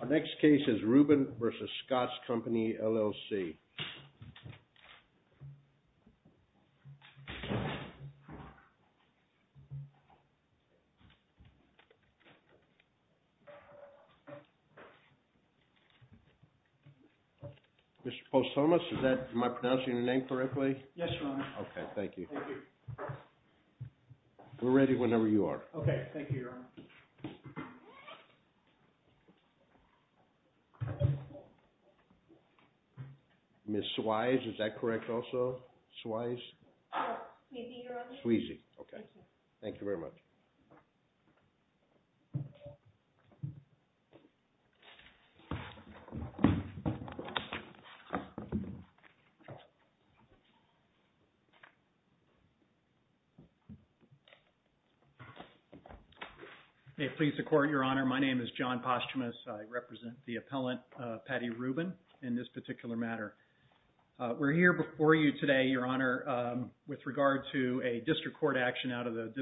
Our next case is Rubin v. Scotts Company LLC Mr. Poulsomas, am I pronouncing your name correctly? Yes, Your Honor. Okay, thank you. Thank you. We're ready whenever you are. Okay, thank you, Your Honor. Ms. Swise, is that correct also? Swise? No, Sweezy, Your Honor. Sweezy, okay. Thank you. Thank you very much. May it please the Court, Your Honor, my name is John Postumus. I represent the appellant, Patty Rubin, in this particular matter. We're here before you today, Your Honor, with regard to a district court action out of the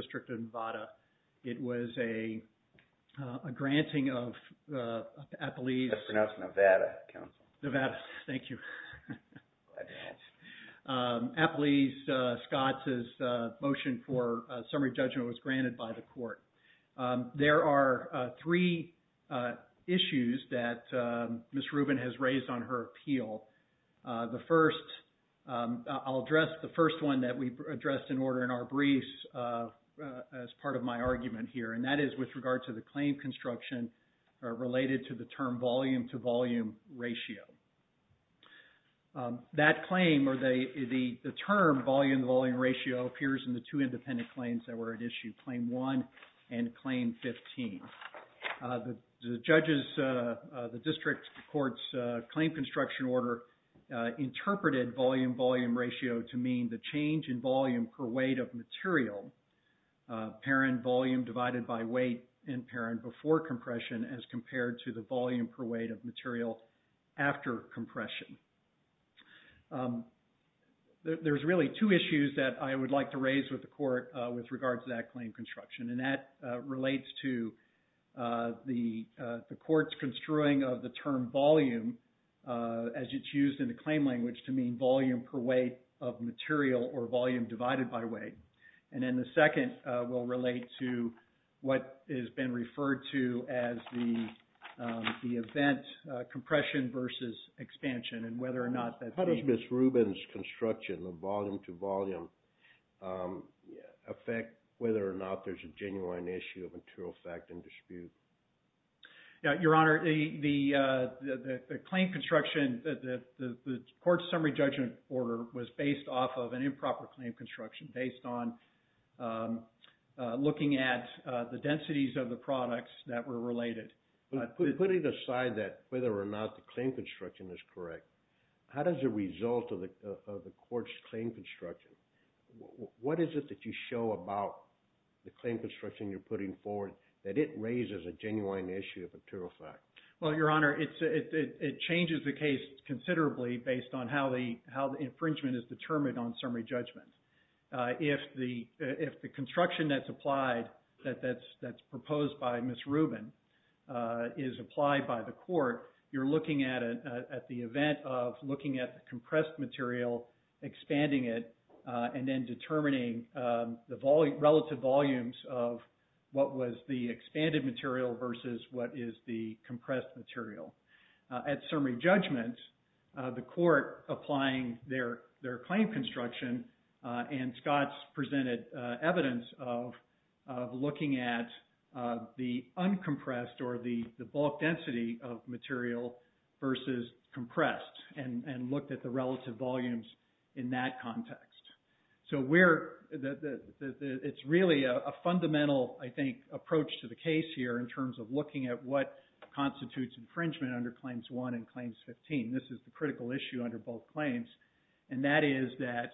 It was a granting of Appalese... That's pronounced Nevada, Counsel. Nevada. Thank you. Glad to hear it. Appalese-Scotts' motion for summary judgment was granted by the Court. There are three issues that Ms. Rubin has raised on her appeal. The first... I'll address the first one that we addressed in order in our briefs as part of my argument here, and that is with regard to the claim construction related to the term volume-to-volume ratio. That claim or the term volume-to-volume ratio appears in the two independent claims that were at issue, Claim 1 and Claim 15. The judges... The district court's claim construction order interpreted volume-volume ratio to mean the change in volume per weight of material, parent volume divided by weight in parent before compression, as compared to the volume per weight of material after compression. There's really two issues that I would like to raise with the Court with regard to that The Court's construing of the term volume, as it's used in the claim language, to mean volume per weight of material or volume divided by weight. And then the second will relate to what has been referred to as the event compression versus expansion and whether or not that... How does Ms. Rubin's construction of volume-to-volume affect whether or not there's a genuine issue of material fact and dispute? Your Honor, the claim construction... The Court's summary judgment order was based off of an improper claim construction based on looking at the densities of the products that were related. Putting aside that, whether or not the claim construction is correct, how does the result of the Court's claim construction... that it raises a genuine issue of material fact? Well, Your Honor, it changes the case considerably based on how the infringement is determined on summary judgment. If the construction that's applied, that's proposed by Ms. Rubin, is applied by the Court, you're looking at it at the event of looking at the compressed material, expanding it, and then determining the relative volumes of what was the expanded material versus what is the compressed material. At summary judgment, the Court applying their claim construction, and Scott's presented evidence of looking at the uncompressed or the bulk density of material versus compressed and looked at the relative volumes in that context. It's really a fundamental, I think, approach to the case here in terms of looking at what constitutes infringement under Claims 1 and Claims 15. This is the critical issue under both claims, and that is that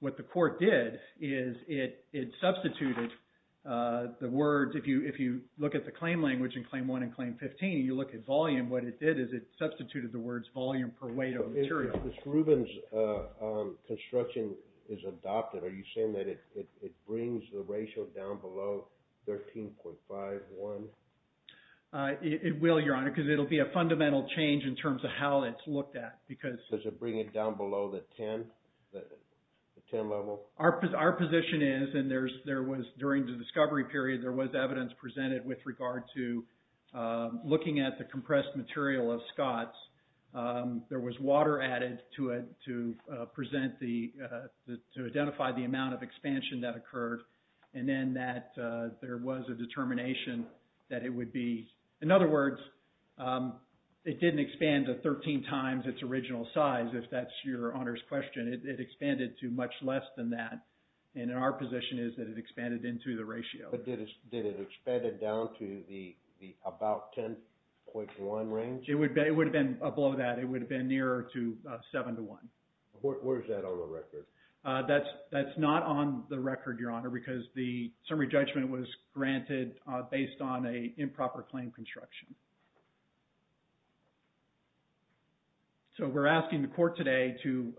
what the Court did is it substituted the words... If you look at the claim language in Claim 1 and Claim 15, you look at volume, what it did is it substituted the words volume per weight of material. If Ms. Rubin's construction is adopted, are you saying that it brings the ratio down below 13.51? It will, Your Honor, because it will be a fundamental change in terms of how it's looked at. Does it bring it down below the 10 level? Our position is, and there was during the discovery period, there was evidence presented with regard to looking at the compressed material of Scott's. There was water added to it to identify the amount of expansion that occurred, and then that there was a determination that it would be... In other words, it didn't expand to 13 times its original size, if that's Your Honor's question. It expanded to much less than that, and our position is that it expanded into the ratio. But did it expand it down to the about 10.1 range? It would have been below that. It would have been nearer to 7 to 1. Where is that on the record? That's not on the record, Your Honor, because the summary judgment was granted based on an improper claim construction. So we're asking the court today to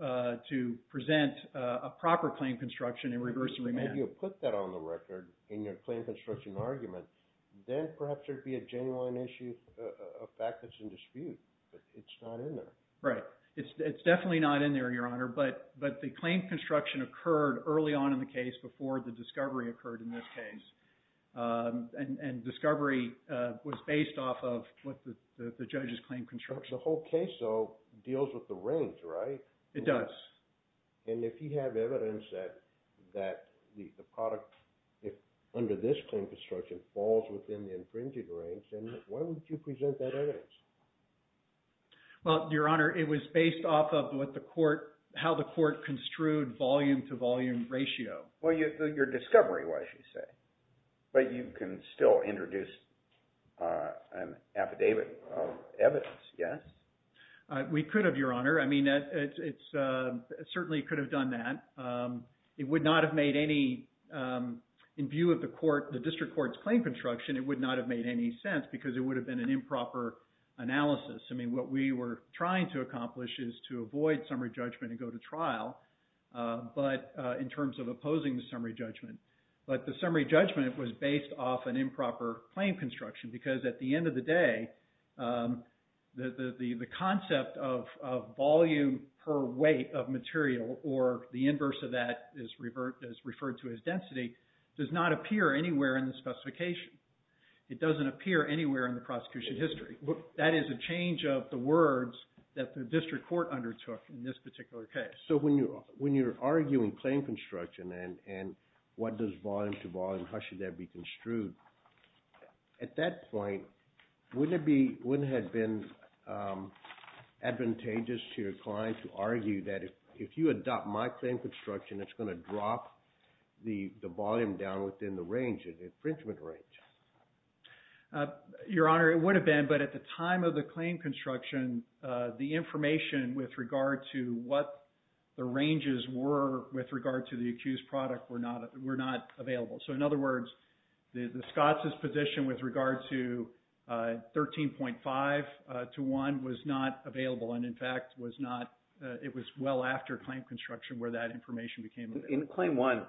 present a proper claim construction in reverse and remand. If you put that on the record in your claim construction argument, then perhaps there would be a genuine issue, a fact that's in dispute, but it's not in there. Right. It's definitely not in there, Your Honor, but the claim construction occurred early on in the case before the discovery occurred in this case, and discovery was based off of what the judge's claim construction... The whole case, though, deals with the range, right? It does. And if you have evidence that the product under this claim construction falls within the infringed range, then why wouldn't you present that evidence? Well, Your Honor, it was based off of how the court construed volume-to-volume ratio. Well, your discovery was, you say, but you can still introduce an affidavit of evidence, yes? We could have, Your Honor. I mean, it certainly could have done that. It would not have made any... In view of the district court's claim construction, it would not have made any sense because it would have been an improper analysis. I mean, what we were trying to accomplish is to avoid summary judgment and go to trial, but in terms of opposing the summary judgment. But the summary judgment was based off an improper claim construction because at the weight of material, or the inverse of that is referred to as density, does not appear anywhere in the specification. It doesn't appear anywhere in the prosecution history. That is a change of the words that the district court undertook in this particular case. So when you're arguing claim construction and what does volume-to-volume, how should that be construed, at that point, wouldn't it have been advantageous to your client to argue that if you adopt my claim construction, it's going to drop the volume down within the range, the infringement range? Your Honor, it would have been, but at the time of the claim construction, the information with regard to what the ranges were with regard to the accused product were not available. So, in other words, the Scotts' position with regard to 13.5 to 1 was not available and, in fact, was not, it was well after claim construction where that information became available. In claim 1,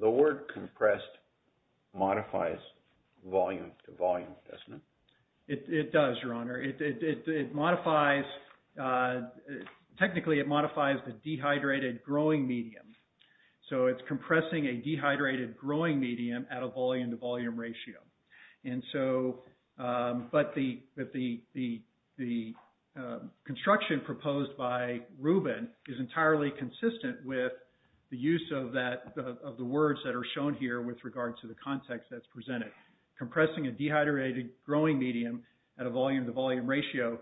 the word compressed modifies volume-to-volume, doesn't it? It does, Your Honor. It modifies, technically, it modifies the dehydrated growing medium. So, it's compressing a dehydrated growing medium at a volume-to-volume ratio. And so, but the construction proposed by Rubin is entirely consistent with the use of the words that are shown here with regard to the context that's presented. Compressing a dehydrated growing medium at a volume-to-volume ratio,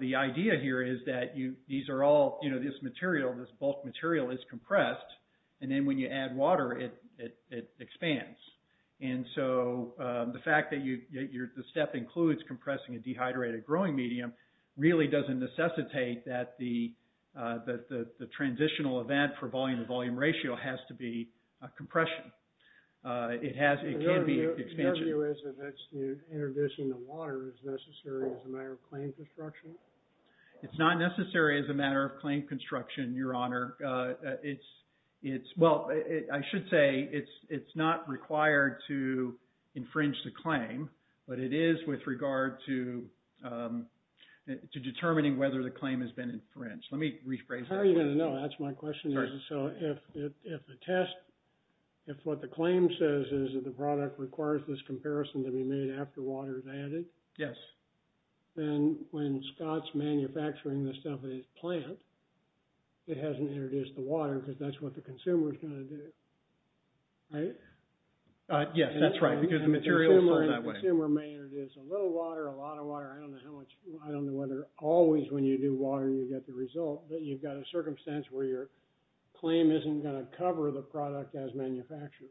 the idea here is that these are all, you know, this material, this bulk material is compressed, and then when you add water, it expands. And so, the fact that the step includes compressing a dehydrated growing medium really doesn't necessitate that the transitional event for volume-to-volume ratio has to be compression. It can be expansion. Your view is that introducing the water is necessary as a matter of claim construction? It's not necessary as a matter of claim construction, Your Honor. It's, well, I should say it's not required to infringe the claim, but it is with regard to determining whether the claim has been infringed. Let me rephrase that. How are you going to know? That's my question. Sorry. So, if the test, if what the claim says is that the product requires this comparison to be made after water is added? Yes. Then, when Scott's manufacturing the stuff at his plant, it hasn't introduced the water because that's what the consumer is going to do. Right? Yes, that's right, because the material is going that way. The consumer may introduce a little water, a lot of water, I don't know how much, I don't know whether always when you do water, you get the result, but you've got a circumstance where your claim isn't going to cover the product as manufactured.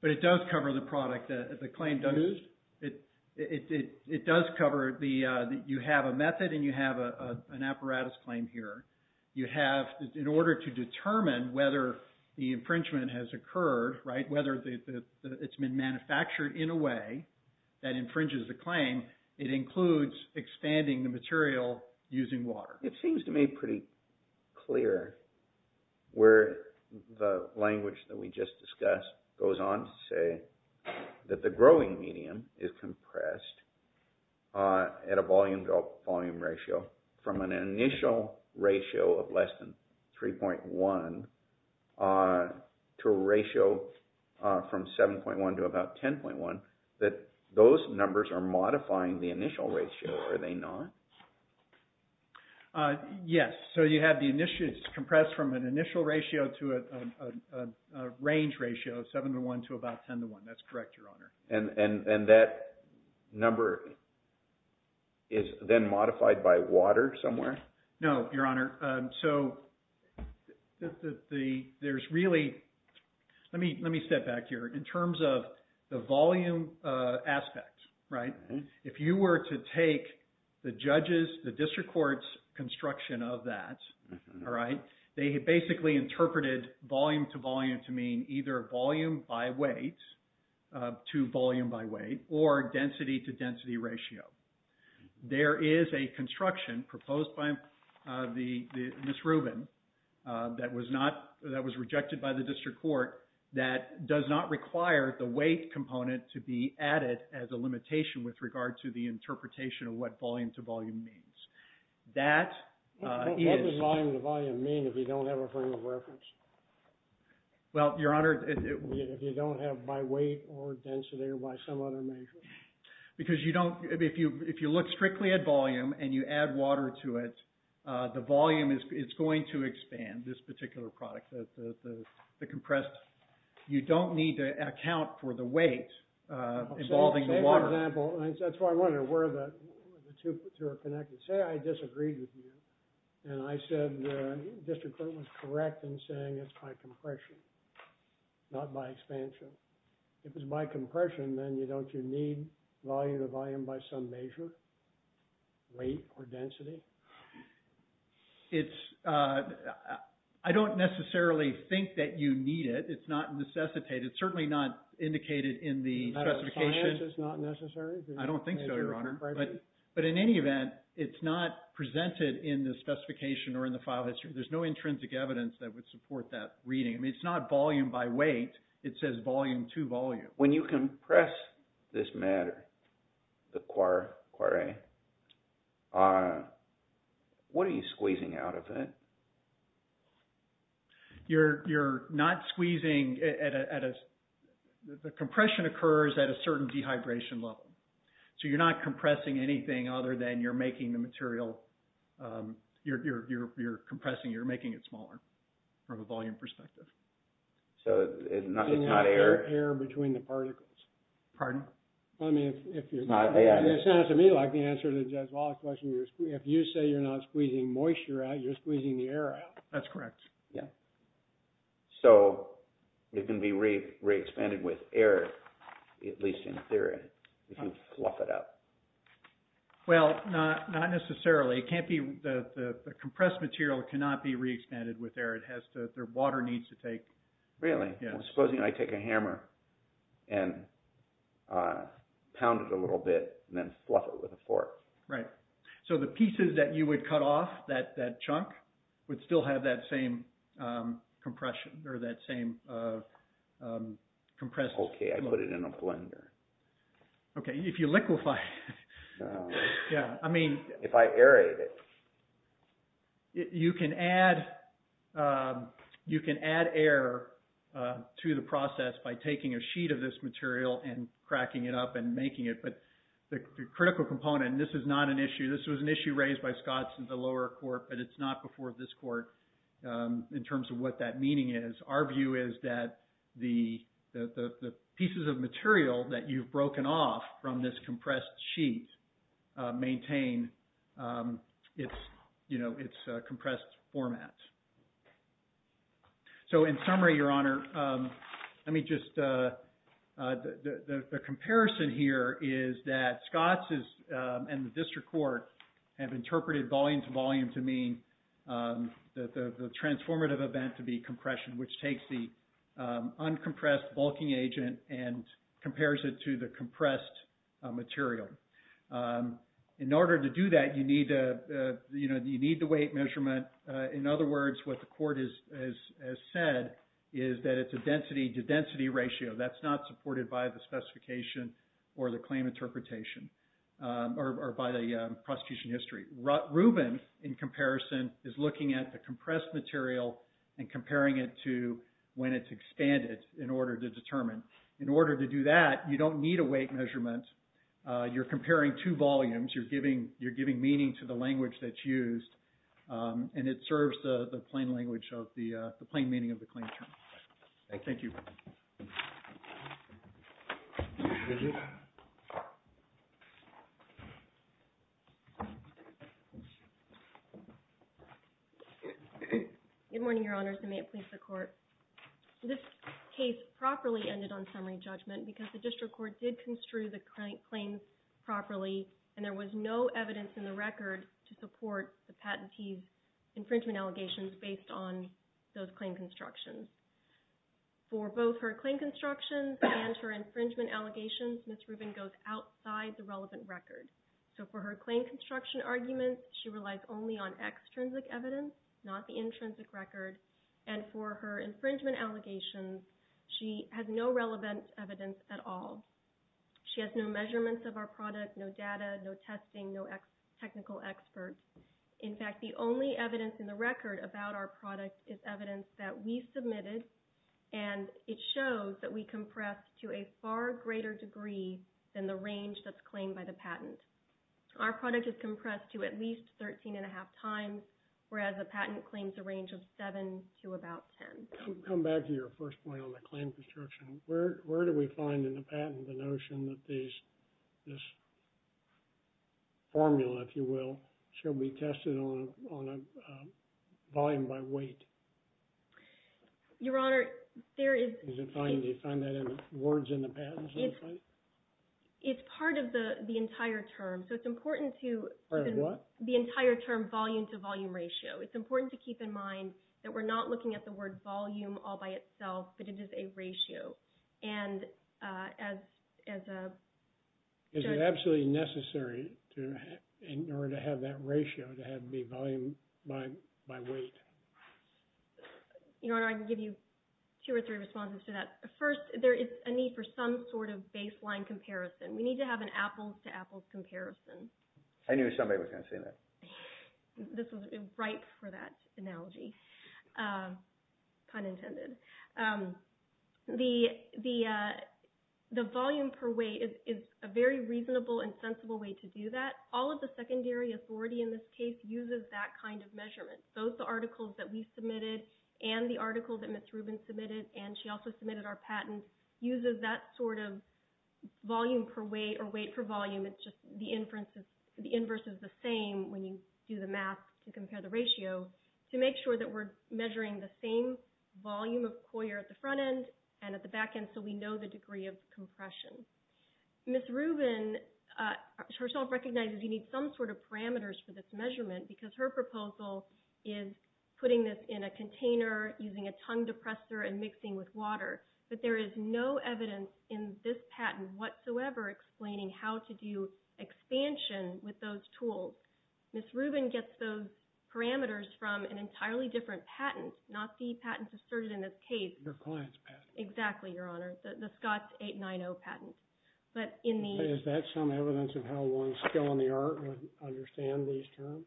But it does cover the product. It does cover the, you have a method and you have an apparatus claim here. You have, in order to determine whether the infringement has occurred, right, whether it's been manufactured in a way that infringes the claim, it includes expanding the material using water. It seems to me pretty clear where the language that we just discussed goes on to say, that the growing medium is compressed at a volume-to-volume ratio from an initial ratio of less than 3.1 to a ratio from 7.1 to about 10.1, that those numbers are modifying the initial ratio, are they not? Yes. So you have the initials compressed from an initial ratio to a range ratio of 7.1 to about 10.1, that's correct, Your Honor. And that number is then modified by water somewhere? No, Your Honor. So there's really, let me step back here. In terms of the volume aspect, right, if you were to take the judges, the district court's judges have done that, all right? They have basically interpreted volume-to-volume to mean either volume by weight to volume by weight, or density-to-density ratio. There is a construction proposed by Ms. Rubin that was rejected by the district court that does not require the weight component to be added as a limitation with regard to the interpretation of what volume-to-volume means. That is... What does volume-to-volume mean if you don't have a frame of reference? Well, Your Honor... If you don't have by weight or density or by some other measure? Because you don't, if you look strictly at volume and you add water to it, the volume is going to expand, this particular product, the compressed, you don't need to account for the weight involving the water. For example, that's why I wonder where the two are connected. Say I disagreed with you and I said the district court was correct in saying it's by compression, not by expansion. If it's by compression, then don't you need volume-to-volume by some measure, weight or density? It's... I don't necessarily think that you need it. It's not necessitated. It's certainly not indicated in the specification. It's not necessary? I don't think so, Your Honor. But in any event, it's not presented in the specification or in the file history. There's no intrinsic evidence that would support that reading. I mean, it's not volume by weight. It says volume-to-volume. When you compress this matter, the quarry, what are you squeezing out of it? You're not squeezing at a... The compression occurs at a certain dehydration level. So you're not compressing anything other than you're making the material... You're compressing. You're making it smaller from a volume perspective. So it's not air? It's not air between the particles. Pardon? I mean, if you're... It sounds to me like the answer to Judge Wallace's question, if you say you're not squeezing moisture out, you're squeezing the air out. That's correct. Yeah. So it can be re-expanded with air, at least in theory, if you fluff it up. Well, not necessarily. It can't be... The compressed material cannot be re-expanded with air. It has to... The water needs to take... Really? Yeah. Supposing I take a hammer and pound it a little bit and then fluff it with a fork. Right. So the pieces that you would cut off, that chunk, would still have that same compression, or that same compressed... Okay, I put it in a blender. Okay. If you liquefy it... No. Yeah. I mean... If I aerate it. You can add air to the process by taking a sheet of this material and cracking it up and making it. But the critical component, this is not an issue. This was an issue raised by Scott in the lower court, but it's not before this court in terms of what that meaning is. Our view is that the pieces of material that you've broken off from this compressed sheet maintain its compressed format. So in summary, Your Honor, let me just... The comparison here is that Scott and the district court have interpreted volume to volume to mean the transformative event to be compression, which takes the uncompressed bulking agent and compares it to the compressed material. In order to do that, you need the weight measurement. In other words, what the court has said is that it's a density to density ratio. That's not supported by the specification or the claim interpretation or by the prosecution history. Ruben, in comparison, is looking at the compressed material and comparing it to when it's expanded in order to determine. In order to do that, you don't need a weight measurement. You're comparing two volumes. You're giving meaning to the language that's used, and it serves the plain meaning of the claim term. Thank you. Good morning, Your Honors, and may it please the Court. This case properly ended on summary judgment because the district court did construe the fact that there was no evidence in the record to support the patentee's infringement allegations based on those claim constructions. For both her claim constructions and her infringement allegations, Ms. Ruben goes outside the relevant record. For her claim construction arguments, she relies only on extrinsic evidence, not the intrinsic record, and for her infringement allegations, she has no relevant evidence at all. She has no measurements of our product, no data, no testing, no technical experts. In fact, the only evidence in the record about our product is evidence that we submitted, and it shows that we compress to a far greater degree than the range that's claimed by the patent. Our product is compressed to at least 13 1⁄2 times, whereas the patent claims a range of 7 to about 10. Come back to your first point on the claim construction. Where do we find in the patent the notion that this formula, if you will, should be tested on a volume by weight? Your Honor, there is... Do you find that in words in the patent? It's part of the entire term, so it's important to... Part of what? The entire term volume to volume ratio. It's important to keep in mind that we're not looking at the word volume all by itself, but it is a ratio, and as a... Is it absolutely necessary in order to have that ratio to have it be volume by weight? Your Honor, I can give you two or three responses to that. First, there is a need for some sort of baseline comparison. We need to have an apples-to-apples comparison. I knew somebody was going to say that. This was ripe for that analogy. Pun intended. The volume per weight is a very reasonable and sensible way to do that. All of the secondary authority in this case uses that kind of measurement. Both the articles that we submitted and the article that Ms. Rubin submitted, and she also submitted our patent, uses that sort of volume per weight or weight per volume. It's just the inverse is the same when you do the math to compare the ratio to make sure that we're measuring the same volume of coir at the front end and at the back end so we know the degree of compression. Ms. Rubin herself recognizes you need some sort of parameters for this measurement because her proposal is putting this in a container using a tongue depressor and mixing with water, but there is no evidence in this patent whatsoever explaining how to do expansion with those tools. Ms. Rubin gets those parameters from an entirely different patent, not the patents asserted in this case. Your client's patent. Exactly, Your Honor. The Scott 890 patent. Is that some evidence of how one's skill in the art would understand these terms?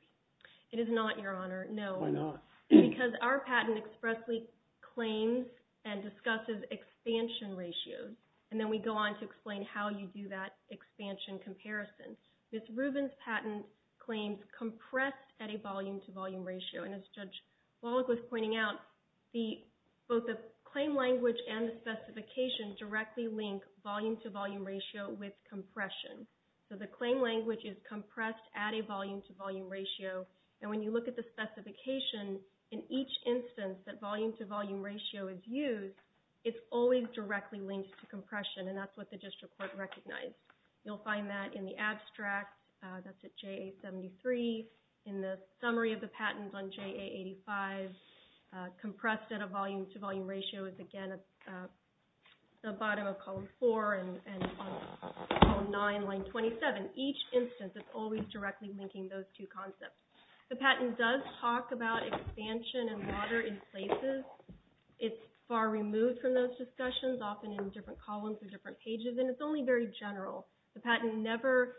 It is not, Your Honor. No. Why not? Because our patent expressly claims and discusses expansion ratios, and then we go on to explain how you do that expansion comparison. Ms. Rubin's patent claims compressed at a volume-to-volume ratio, and as Judge Wallach was pointing out, both the claim language and the specification directly link volume-to-volume ratio with compression. So the claim language is compressed at a volume-to-volume ratio, and when you look at the specification, in each instance that volume-to-volume ratio is used, it's always directly linked to compression, and that's what the district court recognized. You'll find that in the abstract. That's at JA-73. In the summary of the patent on JA-85, compressed at a volume-to-volume ratio is again at the Each instance is always directly linking those two concepts. The patent does talk about expansion and water in places. It's far removed from those discussions, often in different columns or different pages, and it's only very general. The patent never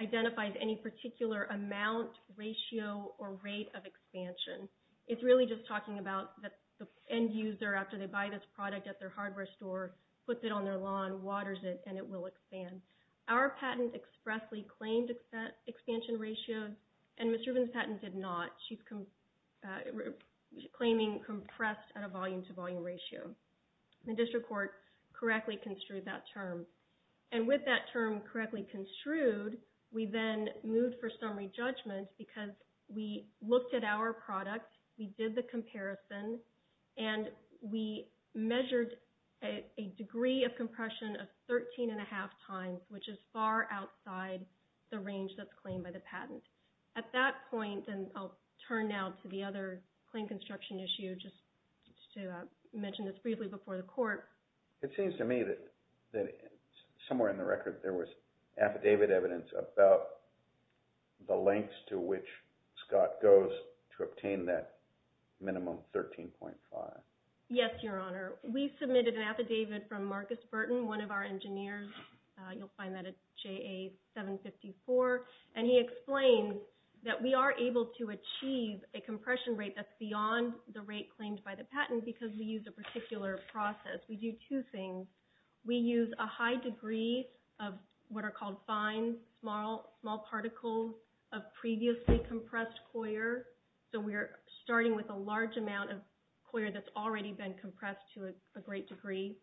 identifies any particular amount, ratio, or rate of expansion. It's really just talking about the end user, after they buy this product at their hardware store, puts it on their lawn, waters it, and it will expand. Our patent expressly claimed expansion ratio, and Ms. Rubin's patent did not. She's claiming compressed at a volume-to-volume ratio. The district court correctly construed that term, and with that term correctly construed, we then moved for summary judgment because we looked at our product, we did the comparison, and we measured a degree of compression of 13.5 times, which is far outside the range that's claimed by the patent. At that point, and I'll turn now to the other claim construction issue, just to mention this briefly before the court. It seems to me that somewhere in the record there was affidavit evidence about the lengths to which Scott goes to obtain that minimum 13.5. Yes, Your Honor. We submitted an affidavit from Marcus Burton, one of our engineers. You'll find that at JA 754, and he explains that we are able to achieve a compression rate that's beyond the rate claimed by the patent because we use a particular process. We do two things. We use a high degree of what are called fine, small particles of previously compressed coir, so we're starting with a large amount of coir that's already been compressed to a great degree,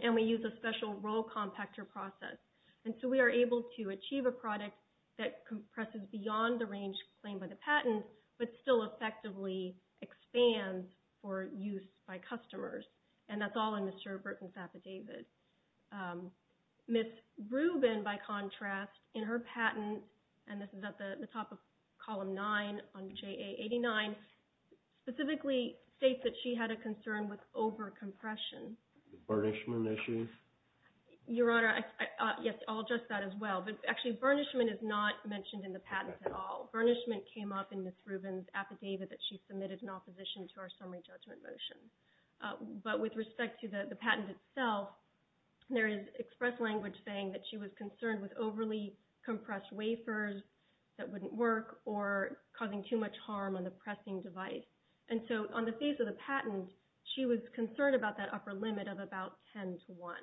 and we use a special roll compactor process. And so we are able to achieve a product that compresses beyond the range claimed by the patent, but still effectively expands for use by customers, and that's all in Mr. Burton's affidavit. Ms. Rubin, by contrast, in her patent, and this is at the top of Column 9 on JA 89, specifically states that she had a concern with over-compression. Burnishment issues? Your Honor, yes, I'll address that as well, but actually burnishment is not mentioned in the patent at all. Burnishment came up in Ms. Rubin's affidavit that she submitted in opposition to our summary judgment motion. But with respect to the patent itself, there is express language saying that she was concerned with overly compressed wafers that wouldn't work or causing too much harm on the pressing device. And so on the face of the patent, she was concerned about that upper limit of about 10 to 1.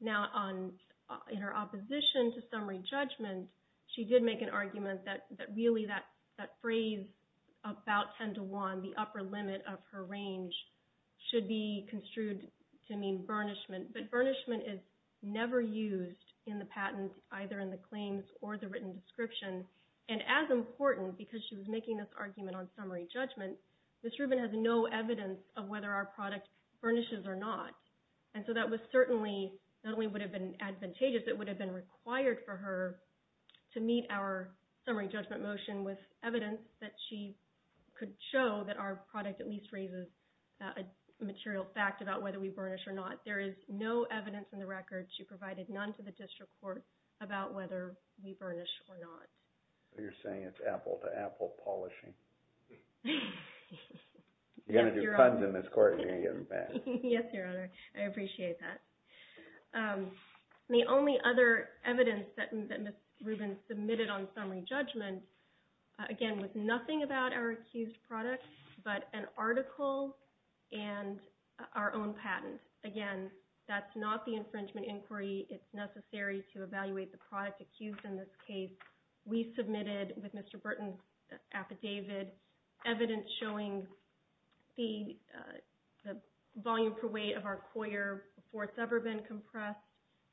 Now, in her opposition to summary judgment, she did make an argument that really that upper limit of her range should be construed to mean burnishment. But burnishment is never used in the patent, either in the claims or the written description. And as important, because she was making this argument on summary judgment, Ms. Rubin has no evidence of whether our product burnishes or not. And so that certainly not only would have been advantageous, it would have been required for her to meet our summary judgment motion with evidence that she could show that our product at least raises a material fact about whether we burnish or not. There is no evidence in the record. She provided none to the district court about whether we burnish or not. You're saying it's apple to apple polishing. You're going to do puns in this court and you're going to get them back. Yes, Your Honor. I appreciate that. The only other evidence that Ms. Rubin submitted on summary judgment, again, was nothing about our accused product, but an article and our own patent. Again, that's not the infringement inquiry. It's necessary to evaluate the product accused in this case. We submitted with Mr. Burton's affidavit evidence showing the volume per weight of our coir before it's ever been compressed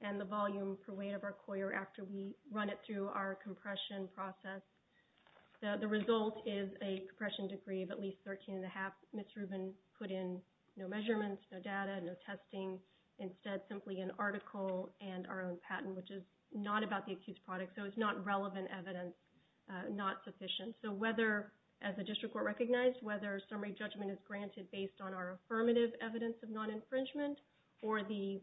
and the volume per weight of our coir after we run it through our compression process. The result is a compression degree of at least 13 and a half. Ms. Rubin put in no measurements, no data, no testing. Instead, simply an article and our own patent, which is not about the accused product, so it's not relevant evidence, not sufficient. So whether, as the district court recognized, whether summary judgment is granted based on our affirmative evidence of non-infringement or the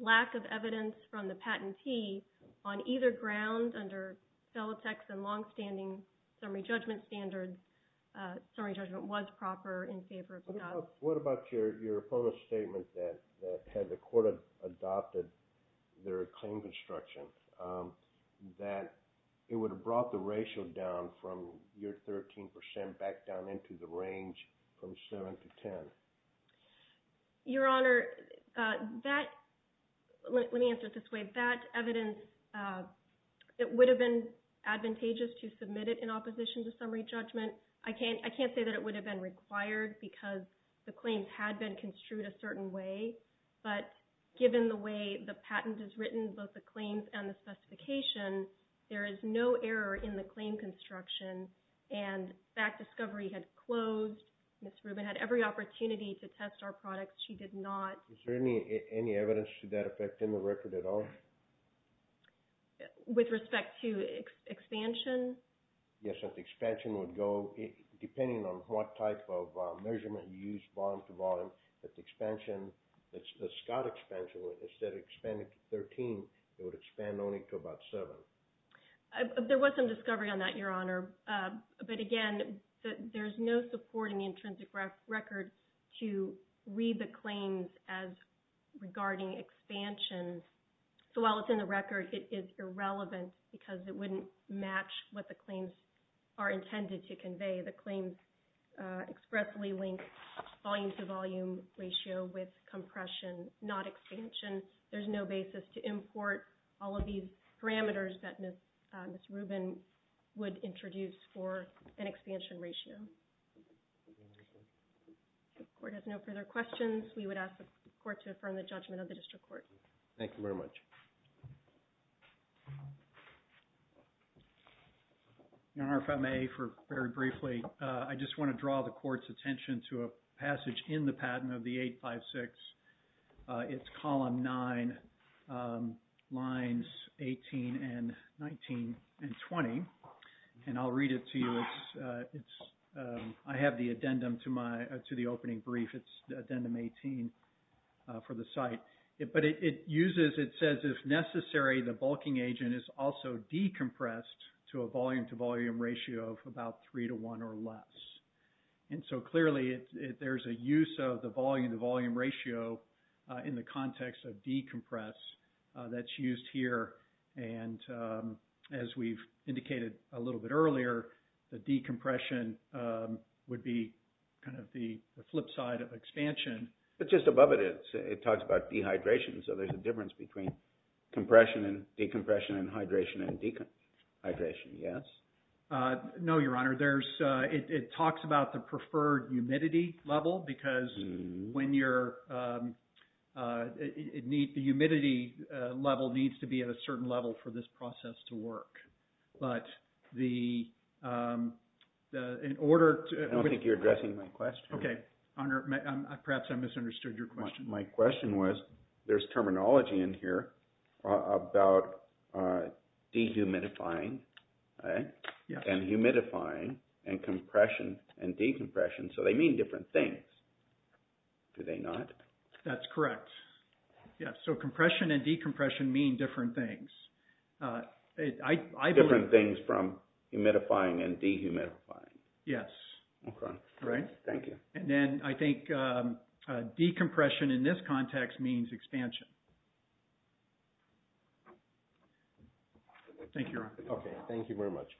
lack of evidence from the patentee on either ground under Felitech's and long-standing summary judgment standards, summary judgment was proper in favor of Scott. What about your promo statement that had the court adopted their claim construction, that it would have brought the ratio down from your 13% back down into the range from 7 to 10? Your Honor, let me answer it this way. That evidence, it would have been advantageous to submit it in opposition to summary judgment. I can't say that it would have been required because the claims had been construed a certain way, but given the way the patent is written, both the claims and the specification, there is no error in the claim construction, and that discovery had closed. Ms. Rubin had every opportunity to test our products. She did not. Is there any evidence to that effect in the record at all? With respect to expansion? Yes, if the expansion would go, depending on what type of measurement you use bottom to bottom, if the expansion, the Scott expansion, instead of expanding to 13, it would expand only to about 7. There was some discovery on that, Your Honor. But again, there's no support in the intrinsic record to read the claims as regarding expansion. So while it's in the record, it is irrelevant because it wouldn't match what the claims are intended to convey. The claims expressly link volume to volume ratio with compression, not expansion. There's no basis to import all of these parameters that Ms. Rubin would introduce for an expansion ratio. If the Court has no further questions, we would ask the Court to affirm the judgment of the District Court. Thank you very much. Your Honor, if I may, very briefly, I just want to draw the Court's attention to a passage in the patent of the 856. It's column 9, lines 18 and 19 and 20. And I'll read it to you. I have the addendum to the opening brief. It's addendum 18 for the site. But it uses, it says, if necessary, the bulking agent is also decompressed to a volume to volume ratio of about 3 to 1 or less. And so clearly, there's a use of the volume to volume ratio in the context of decompress that's used here. And as we've indicated a little bit earlier, the decompression would be kind of the flip side of expansion. But just above it, it talks about dehydration. So there's a difference between compression and decompression and hydration and dehydration, yes? No, Your Honor. It talks about the preferred humidity level because when you're... The humidity level needs to be at a certain level for this process to work. But in order to... I don't think you're addressing my question. Okay. Your Honor, perhaps I misunderstood your question. My question was, there's terminology in here about dehumidifying and humidifying. And compression and decompression. So they mean different things. Do they not? That's correct. Yes. So compression and decompression mean different things. Different things from humidifying and dehumidifying. Yes. Okay. Right? Thank you. And then I think decompression in this context means expansion. Thank you, Your Honor. Okay. Thank you very much.